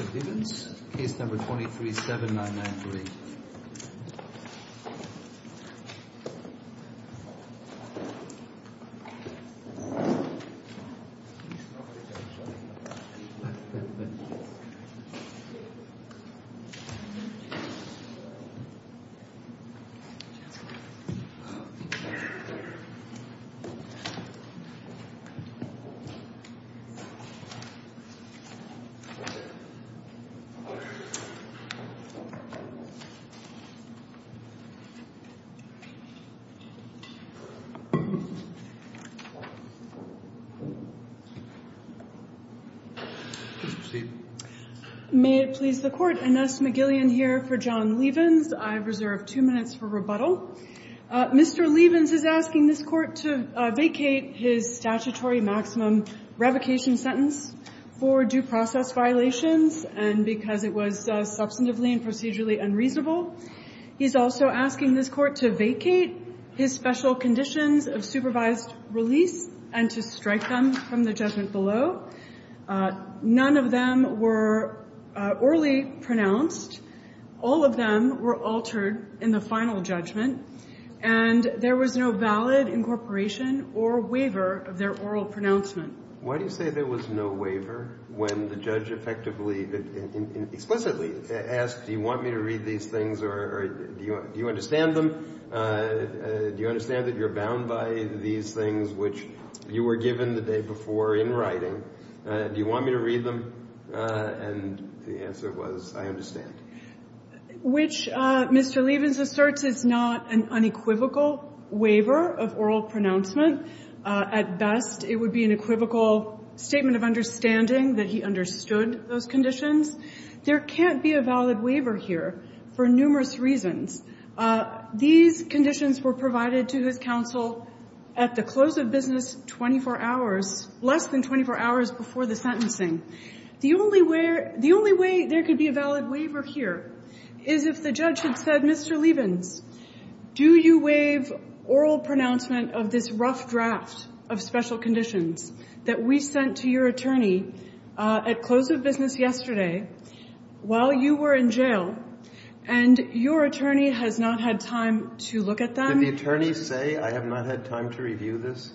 or Gibbons, case number 23-7993. May it please the Court, Ines McGillian here for John Leavens. I reserve two minutes for rebuttal. Mr. Leavens is asking this Court to vacate his statutory maximum revocation sentence. For due process violations and because it was substantively and procedurally unreasonable. He's also asking this Court to vacate his special conditions of supervised release and to strike them from the judgment below. None of them were orally pronounced. All of them were altered in the final judgment. And there was no valid incorporation or waiver of their oral pronouncement. Why do you say there was no waiver when the judge effectively, explicitly, asked do you want me to read these things or do you understand them? Do you understand that you're bound by these things which you were given the day before in writing? Do you want me to read them? And the answer was I understand. Which Mr. Leavens asserts is not an unequivocal waiver of oral pronouncement. At best, it would be an equivocal statement of understanding that he understood those conditions. There can't be a valid waiver here for numerous reasons. These conditions were provided to his counsel at the close of business 24 hours, less than 24 hours before the sentencing. The only way there could be a valid waiver here is if the judge had said, Mr. Leavens, do you waive oral pronouncement of this rough draft of special conditions that we sent to your attorney at close of business yesterday while you were in jail and your attorney has not had time to look at them? Did the attorney say I have not had time to review this?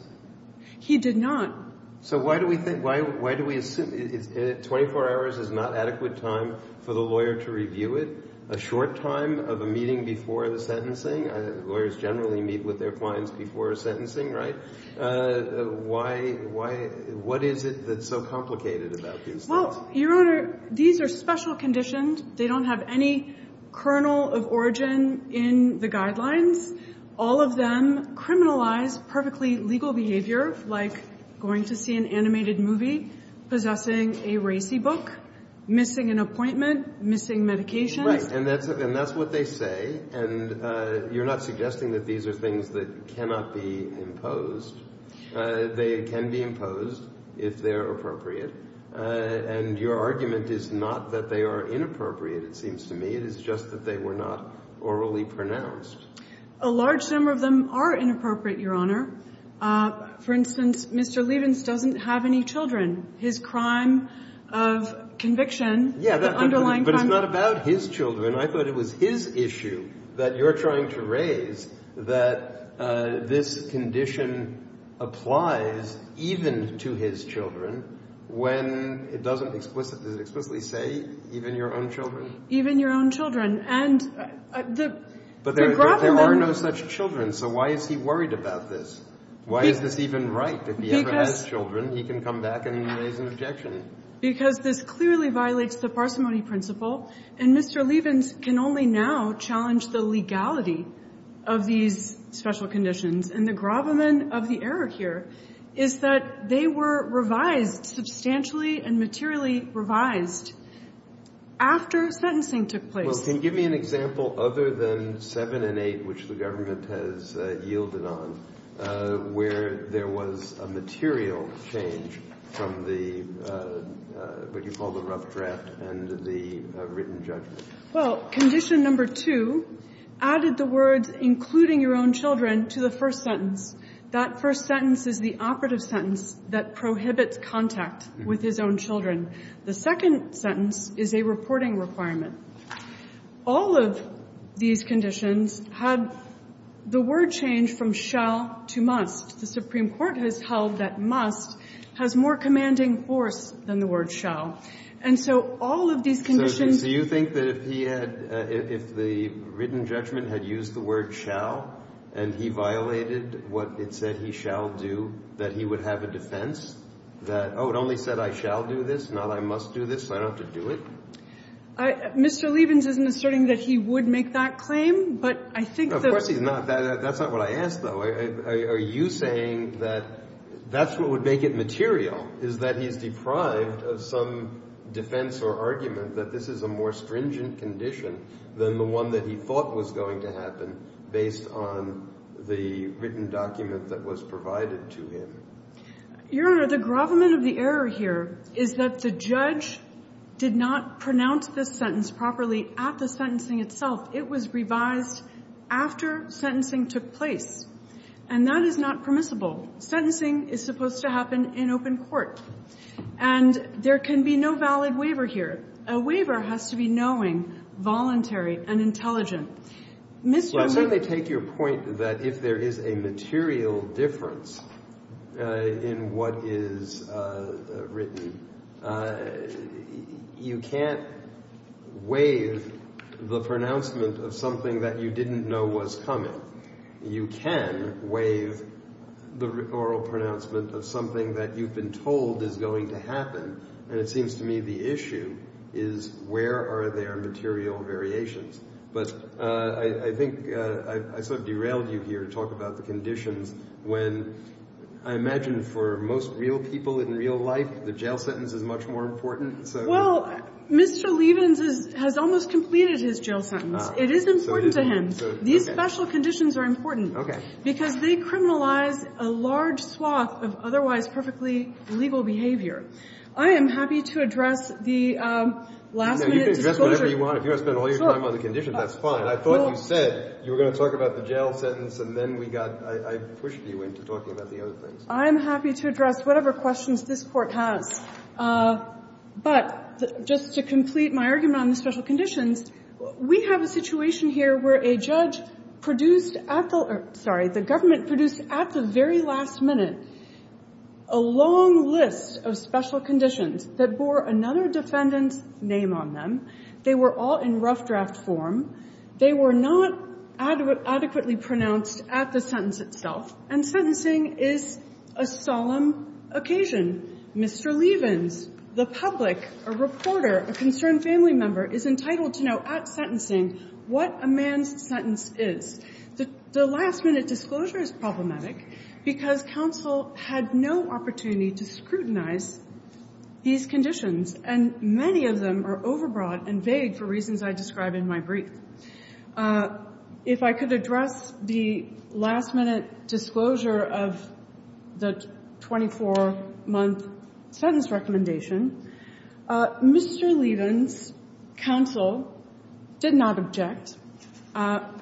He did not. So why do we think why do we assume 24 hours is not adequate time for the lawyer to review it? A short time of a meeting before the sentencing? Lawyers generally meet with their clients before sentencing, right? Why? What is it that's so complicated about these things? Well, Your Honor, these are special conditions. They don't have any kernel of origin in the guidelines. All of them criminalize perfectly legal behavior like going to see an animated movie, possessing a racy book, missing an appointment, missing medications. Right, and that's what they say. And you're not suggesting that these are things that cannot be imposed. They can be imposed if they're appropriate. And your argument is not that they are inappropriate, it seems to me. It is just that they were not orally pronounced. A large number of them are inappropriate, Your Honor. For instance, Mr. Lievens doesn't have any children. His crime of conviction, the underlying crime. But it's not about his children. I thought it was his issue that you're trying to raise that this condition applies even to his children when it doesn't explicitly say even your own children. Even your own children. But there are no such children, so why is he worried about this? Why is this even right? If he ever has children, he can come back and raise an objection. Because this clearly violates the parsimony principle, and Mr. Lievens can only now challenge the legality of these special conditions. And the gravamen of the error here is that they were revised substantially and materially revised after sentencing took place. So can you give me an example other than 7 and 8, which the government has yielded on, where there was a material change from the, what you call the rough draft, and the written judgment? Well, condition number 2 added the words including your own children to the first sentence. That first sentence is the operative sentence that prohibits contact with his own children. The second sentence is a reporting requirement. All of these conditions had the word change from shall to must. The Supreme Court has held that must has more commanding force than the word shall. And so all of these conditions ---- So you think that if he had, if the written judgment had used the word shall and he violated what it said he shall do, that he would have a defense that, oh, it only said I shall do this, not I must do this, so I don't have to do it? Mr. Lievens isn't asserting that he would make that claim, but I think that ---- Of course he's not. That's not what I asked, though. Are you saying that that's what would make it material, is that he's deprived of some defense or argument that this is a more stringent condition than the one that he thought was going to happen based on the written document that was provided to him? Your Honor, the grovelment of the error here is that the judge did not pronounce this sentence properly at the sentencing itself. It was revised after sentencing took place. And that is not permissible. Sentencing is supposed to happen in open court. And there can be no valid waiver here. A waiver has to be knowing, voluntary, and intelligent. Mr. Lievens ---- In what is written, you can't waive the pronouncement of something that you didn't know was coming. You can waive the oral pronouncement of something that you've been told is going to happen. And it seems to me the issue is where are there material variations. But I think I sort of derailed you here to talk about the conditions when I imagine for most real people in real life, the jail sentence is much more important. Well, Mr. Lievens has almost completed his jail sentence. It is important to him. These special conditions are important. Okay. Because they criminalize a large swath of otherwise perfectly legal behavior. I am happy to address the last-minute disclosure. You can address whatever you want. If you want to spend all your time on the conditions, that's fine. I thought you said you were going to talk about the jail sentence, and then we got ---- I pushed you into talking about the other things. I am happy to address whatever questions this Court has. But just to complete my argument on the special conditions, we have a situation here where a judge produced at the ---- sorry, the government produced at the very last minute a long list of special conditions that bore another defendant's name on them. They were all in rough draft form. They were not adequately pronounced at the sentence itself. And sentencing is a solemn occasion. Mr. Lievens, the public, a reporter, a concerned family member is entitled to know at sentencing what a man's sentence is. The last-minute disclosure is problematic because counsel had no opportunity to scrutinize these conditions. And many of them are overbroad and vague for reasons I describe in my brief. If I could address the last-minute disclosure of the 24-month sentence recommendation, Mr. Lievens' counsel did not object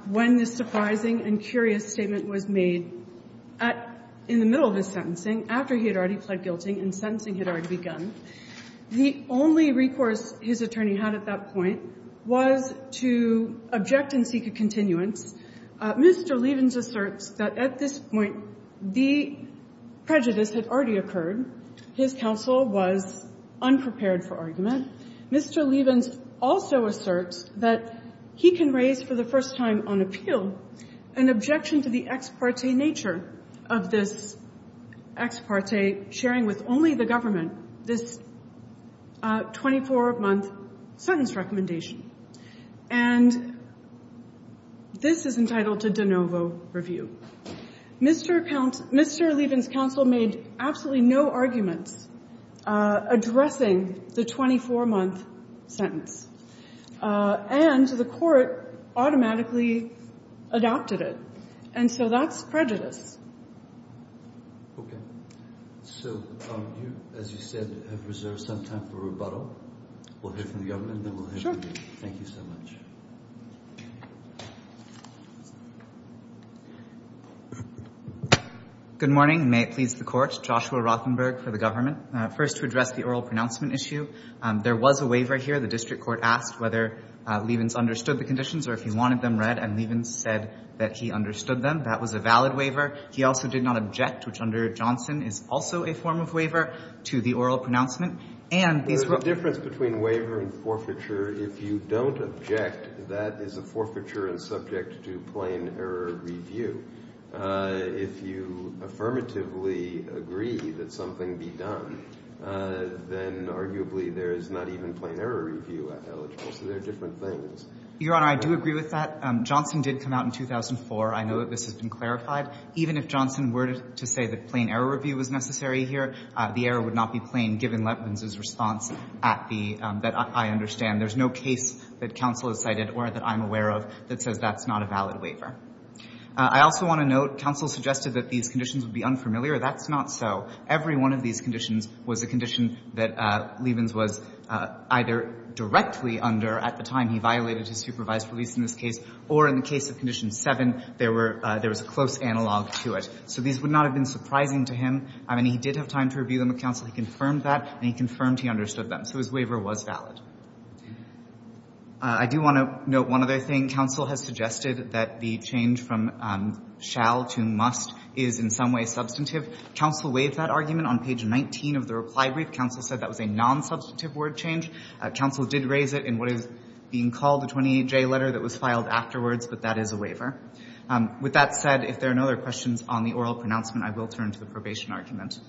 when this surprising and curious statement was made in the middle of his sentencing, after he had already pled guilty and sentencing had already begun. The only recourse his attorney had at that point was to object and seek a continuance. Mr. Lievens asserts that at this point the prejudice had already occurred. His counsel was unprepared for argument. Mr. Lievens also asserts that he can raise for the first time on appeal an objection to the ex parte nature of this ex parte sharing with only the government this 24-month sentence recommendation. And this is entitled to de novo review. Mr. Lievens' counsel made absolutely no arguments addressing the 24-month sentence. And the court automatically adopted it. And so that's prejudice. Okay. So you, as you said, have reserved some time for rebuttal. We'll hear from the government, and then we'll hear from you. Thank you so much. Good morning. May it please the Court. Joshua Rothenberg for the government. First, to address the oral pronouncement issue, there was a waiver here. The district court asked whether Lievens understood the conditions or if he wanted them read, and Lievens said that he understood them. That was a valid waiver. He also did not object, which under Johnson is also a form of waiver, to the oral pronouncement. And these were ---- There's a difference between waiver and forfeiture. If you don't object, that is a forfeiture and subject to plain error review. If you affirmatively agree that something be done, then arguably there is not even a plain error review eligible. So there are different things. Your Honor, I do agree with that. Johnson did come out in 2004. I know that this has been clarified. Even if Johnson were to say that plain error review was necessary here, the error would not be plain given Lievens' response at the ---- that I understand. There's no case that counsel has cited or that I'm aware of that says that's not a valid waiver. I also want to note counsel suggested that these conditions would be unfamiliar. That's not so. Every one of these conditions was a condition that Lievens was either directly under at the time he violated his supervised release in this case, or in the case of Condition 7, there were ---- there was a close analog to it. So these would not have been surprising to him. I mean, he did have time to review them with counsel. He confirmed that, and he confirmed he understood them. So his waiver was valid. I do want to note one other thing. Counsel has suggested that the change from shall to must is in some way substantive. Counsel waived that argument on page 19 of the reply brief. Counsel said that was a nonsubstantive word change. Counsel did raise it in what is being called the 28J letter that was filed afterwards, but that is a waiver. With that said, if there are no other questions on the oral pronouncement, I will turn to the probation argument.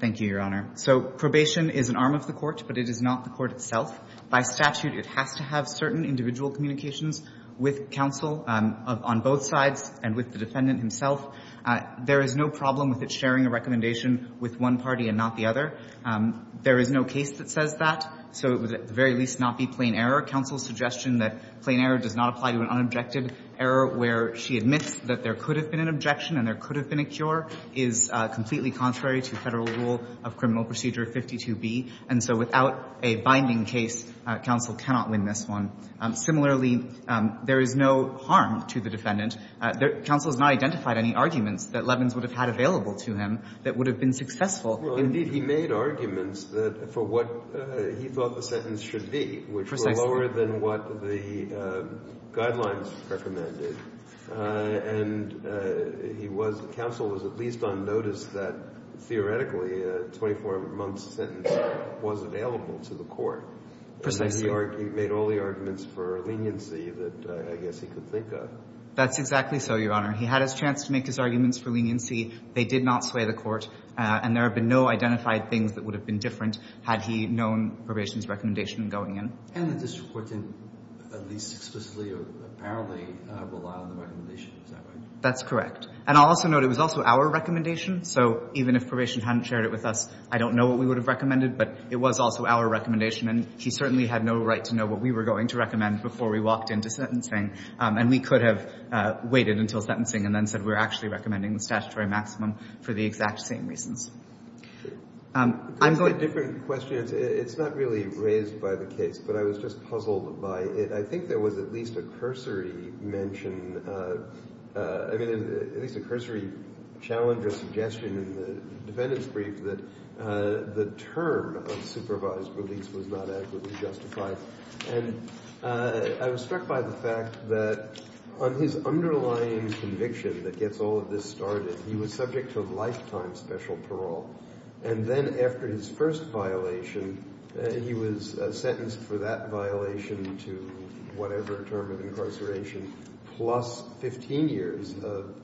Thank you, Your Honor. So probation is an arm of the court, but it is not the court itself. By statute, it has to have certain individual communications with counsel on both sides and with the defendant himself. There is no problem with it sharing a recommendation with one party and not the other. There is no case that says that. So it would at the very least not be plain error. Counsel's suggestion that plain error does not apply to an unobjected error where she admits that there could have been an objection and there could have been a cure is completely contrary to Federal rule of criminal procedure 52B. And so without a binding case, counsel cannot win this one. Similarly, there is no harm to the defendant. Counsel has not identified any arguments that Levins would have had available to him that would have been successful. Well, indeed, he made arguments that for what he thought the sentence should be, which were lower than what the guidelines recommended. And he was, counsel was at least on notice that theoretically a 24-month sentence was available to the court. Precisely. And he made all the arguments for leniency that I guess he could think of. That's exactly so, Your Honor. He had his chance to make his arguments for leniency. They did not sway the court. And there have been no identified things that would have been different had he known probation's recommendation going in. And the district court didn't at least explicitly or apparently rely on the recommendation. Is that right? That's correct. And I'll also note it was also our recommendation. So even if probation hadn't shared it with us, I don't know what we would have recommended. But it was also our recommendation. And he certainly had no right to know what we were going to recommend before we walked into sentencing. And we could have waited until sentencing and then said we're actually recommending the statutory maximum for the exact same reasons. I'm going to go to the next question. It's not really raised by the case, but I was just puzzled by it. I think there was at least a cursory mention, I mean, at least a cursory challenge or suggestion in the defendant's brief that the term of supervised release was not adequately justified. And I was struck by the fact that on his underlying conviction that gets all of this started, he was subject to a lifetime special parole. And then after his first violation, he was sentenced for that violation to whatever term of incarceration plus 15 years of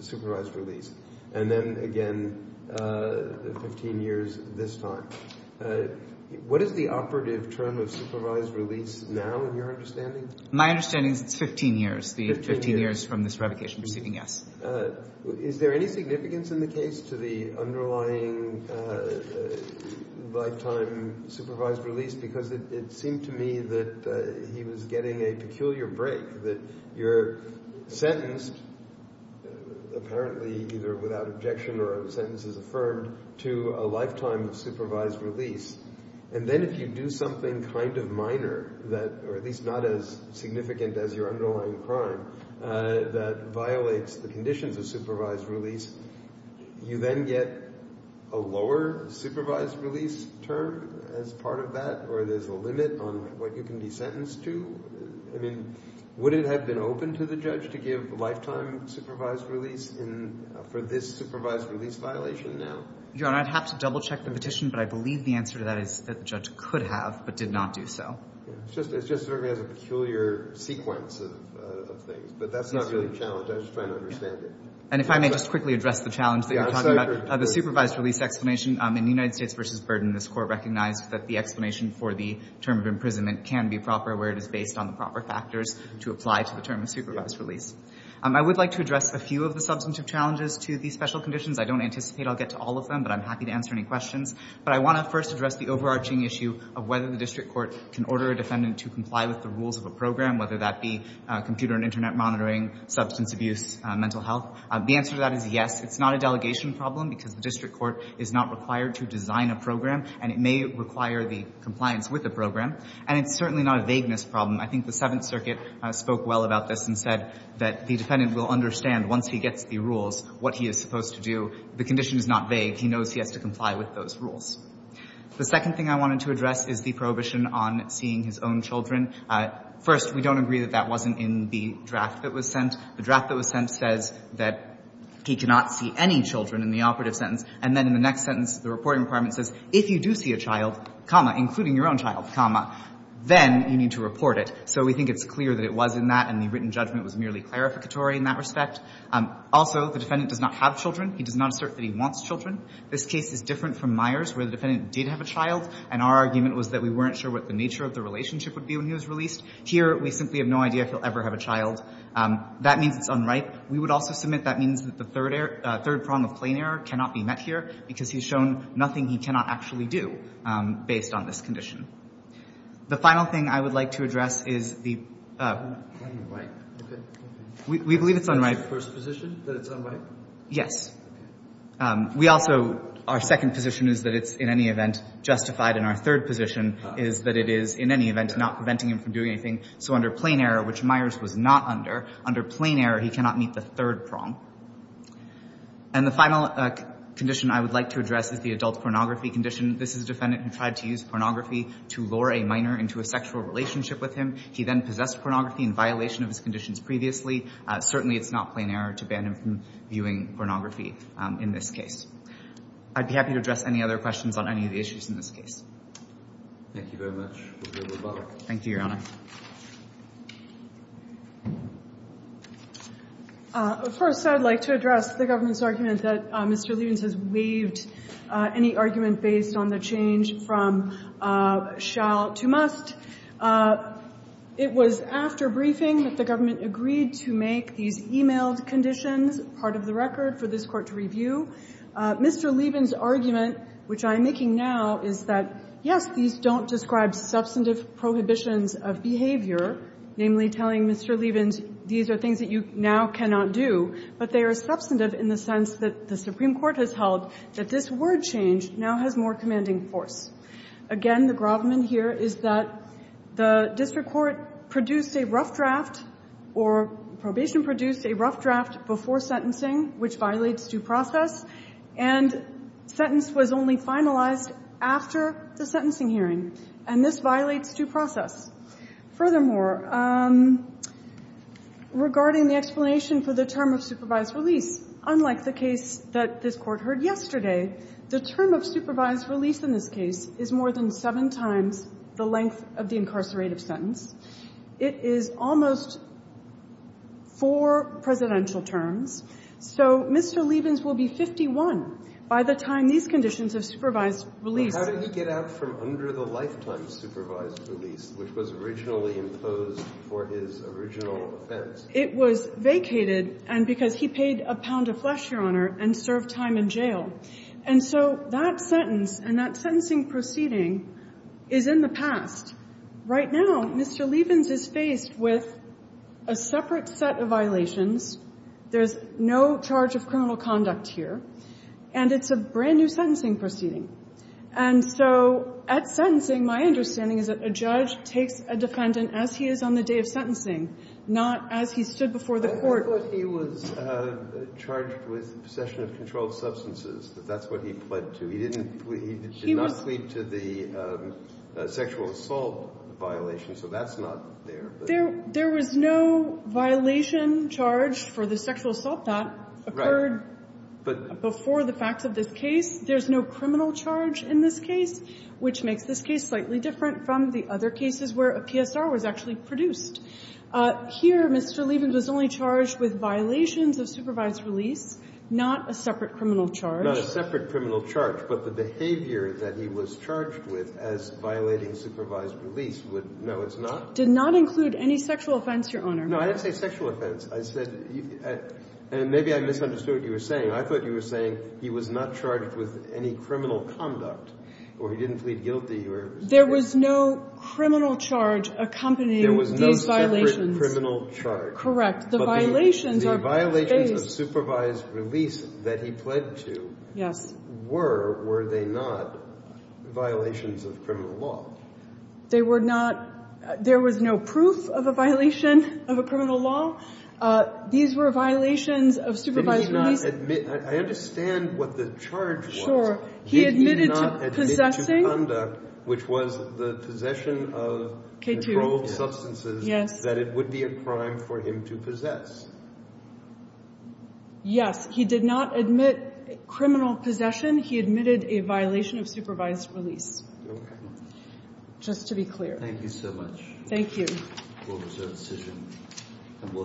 supervised release. And then again, 15 years this time. What is the operative term of supervised release now in your understanding? My understanding is it's 15 years. The 15 years from this revocation proceeding, yes. Is there any significance in the case to the underlying lifetime supervised release? Because it seemed to me that he was getting a peculiar break, that you're sentenced, apparently either without objection or sentences affirmed, to a lifetime of supervised release. And then if you do something kind of minor, or at least not as significant as your underlying crime, that violates the conditions of supervised release, you then get a lower supervised release term as part of that? Or there's a limit on what you can be sentenced to? I mean, would it have been open to the judge to give lifetime supervised release for this supervised release violation now? Your Honor, I'd have to double-check the petition. But I believe the answer to that is that the judge could have, but did not do so. It's just that everybody has a peculiar sequence of things. But that's not really the challenge. I'm just trying to understand it. And if I may just quickly address the challenge that you're talking about. Yes, I agree. The supervised release explanation in United States v. Burden, this court recognized that the explanation for the term of imprisonment can be proper where it is based on the proper factors to apply to the term of supervised release. I would like to address a few of the substantive challenges to these special conditions. I don't anticipate I'll get to all of them, but I'm happy to answer any questions. But I want to first address the overarching issue of whether the district court can order a defendant to comply with the rules of a program, whether that be computer and Internet monitoring, substance abuse, mental health. The answer to that is yes. It's not a delegation problem because the district court is not required to design a program, and it may require the compliance with a program. And it's certainly not a vagueness problem. I think the Seventh Circuit spoke well about this and said that the defendant will understand once he gets the rules what he is supposed to do. The condition is not vague. He knows he has to comply with those rules. The second thing I wanted to address is the prohibition on seeing his own children. First, we don't agree that that wasn't in the draft that was sent. The draft that was sent says that he cannot see any children in the operative sentence, and then in the next sentence, the reporting requirement says, if you do see a child, comma, including your own child, comma, then you need to report it. So we think it's clear that it was in that, and the written judgment was merely clarificatory in that respect. Also, the defendant does not have children. He does not assert that he wants children. This case is different from Myers where the defendant did have a child, and our argument was that we weren't sure what the nature of the relationship would be when he was released. Here, we simply have no idea if he'll ever have a child. That means it's unripe. We would also submit that means that the third prong of plain error cannot be met here because he's shown nothing he cannot actually do based on this condition. The final thing I would like to address is the – We believe it's unripe. Is it your first position that it's unripe? Yes. We also – our second position is that it's, in any event, justified, and our third position is that it is, in any event, not preventing him from doing anything. So under plain error, which Myers was not under, under plain error, he cannot meet the third prong. And the final condition I would like to address is the adult pornography condition. This is a defendant who tried to use pornography to lure a minor into a sexual relationship with him. He then possessed pornography in violation of his conditions previously. Certainly, it's not plain error to ban him from viewing pornography in this case. I'd be happy to address any other questions on any of the issues in this case. Thank you very much. We'll be over the phone. Thank you, Your Honor. Of course, I'd like to address the government's argument that Mr. Lievens has waived any argument based on the change from shall to must. It was after briefing that the government agreed to make these emailed conditions part of the record for this Court to review. Mr. Lievens' argument, which I am making now, is that, yes, these don't describe substantive prohibitions of behavior, namely telling Mr. Lievens these are things that you now cannot do, but they are substantive in the sense that the Supreme Court has held that this word change now has more commanding force. Again, the grovelman here is that the district court produced a rough draft or probation produced a rough draft before sentencing, which violates due process, and sentence was only finalized after the sentencing hearing. And this violates due process. Furthermore, regarding the explanation for the term of supervised release, unlike the case that this Court heard yesterday, the term of supervised release in this case is more than seven times the length of the incarcerated sentence. It is almost four presidential terms. So Mr. Lievens will be 51 by the time these conditions of supervised release How did he get out from under the lifetime supervised release, which was originally imposed for his original offense? It was vacated and because he paid a pound of flesh, Your Honor, and served time in jail. And so that sentence and that sentencing proceeding is in the past. Right now, Mr. Lievens is faced with a separate set of violations. There's no charge of criminal conduct here. And it's a brand-new sentencing proceeding. And so at sentencing, my understanding is that a judge takes a defendant as he is on the day of sentencing, not as he stood before the Court. I thought he was charged with possession of controlled substances, that that's what he pled to. He did not plead to the sexual assault violation, so that's not there. There was no violation charge for the sexual assault that occurred before the facts of this case. There's no criminal charge in this case, which makes this case slightly different from the other cases where a PSR was actually produced. Here, Mr. Lievens was only charged with violations of supervised release, not a separate criminal charge. Not a separate criminal charge, but the behavior that he was charged with as violating supervised release would know it's not. Did not include any sexual offense, Your Honor. No, I didn't say sexual offense. I said you – and maybe I misunderstood what you were saying. I thought you were saying he was not charged with any criminal conduct or he didn't plead guilty or – There was no criminal charge accompanying these violations. There was no separate criminal charge. Correct. The violations are – The violations of supervised release that he pled to – Yes. Were, were they not violations of criminal law? They were not – there was no proof of a violation of a criminal law. These were violations of supervised release. He did not admit – I understand what the charge was. He admitted to possessing – He did not admit to conduct, which was the possession of – K-2. That it would be a crime for him to possess. Yes. He did not admit criminal possession. He admitted a violation of supervised release. Okay. Just to be clear. Thank you so much. Thank you. We'll reserve the decision and we'll hear from you.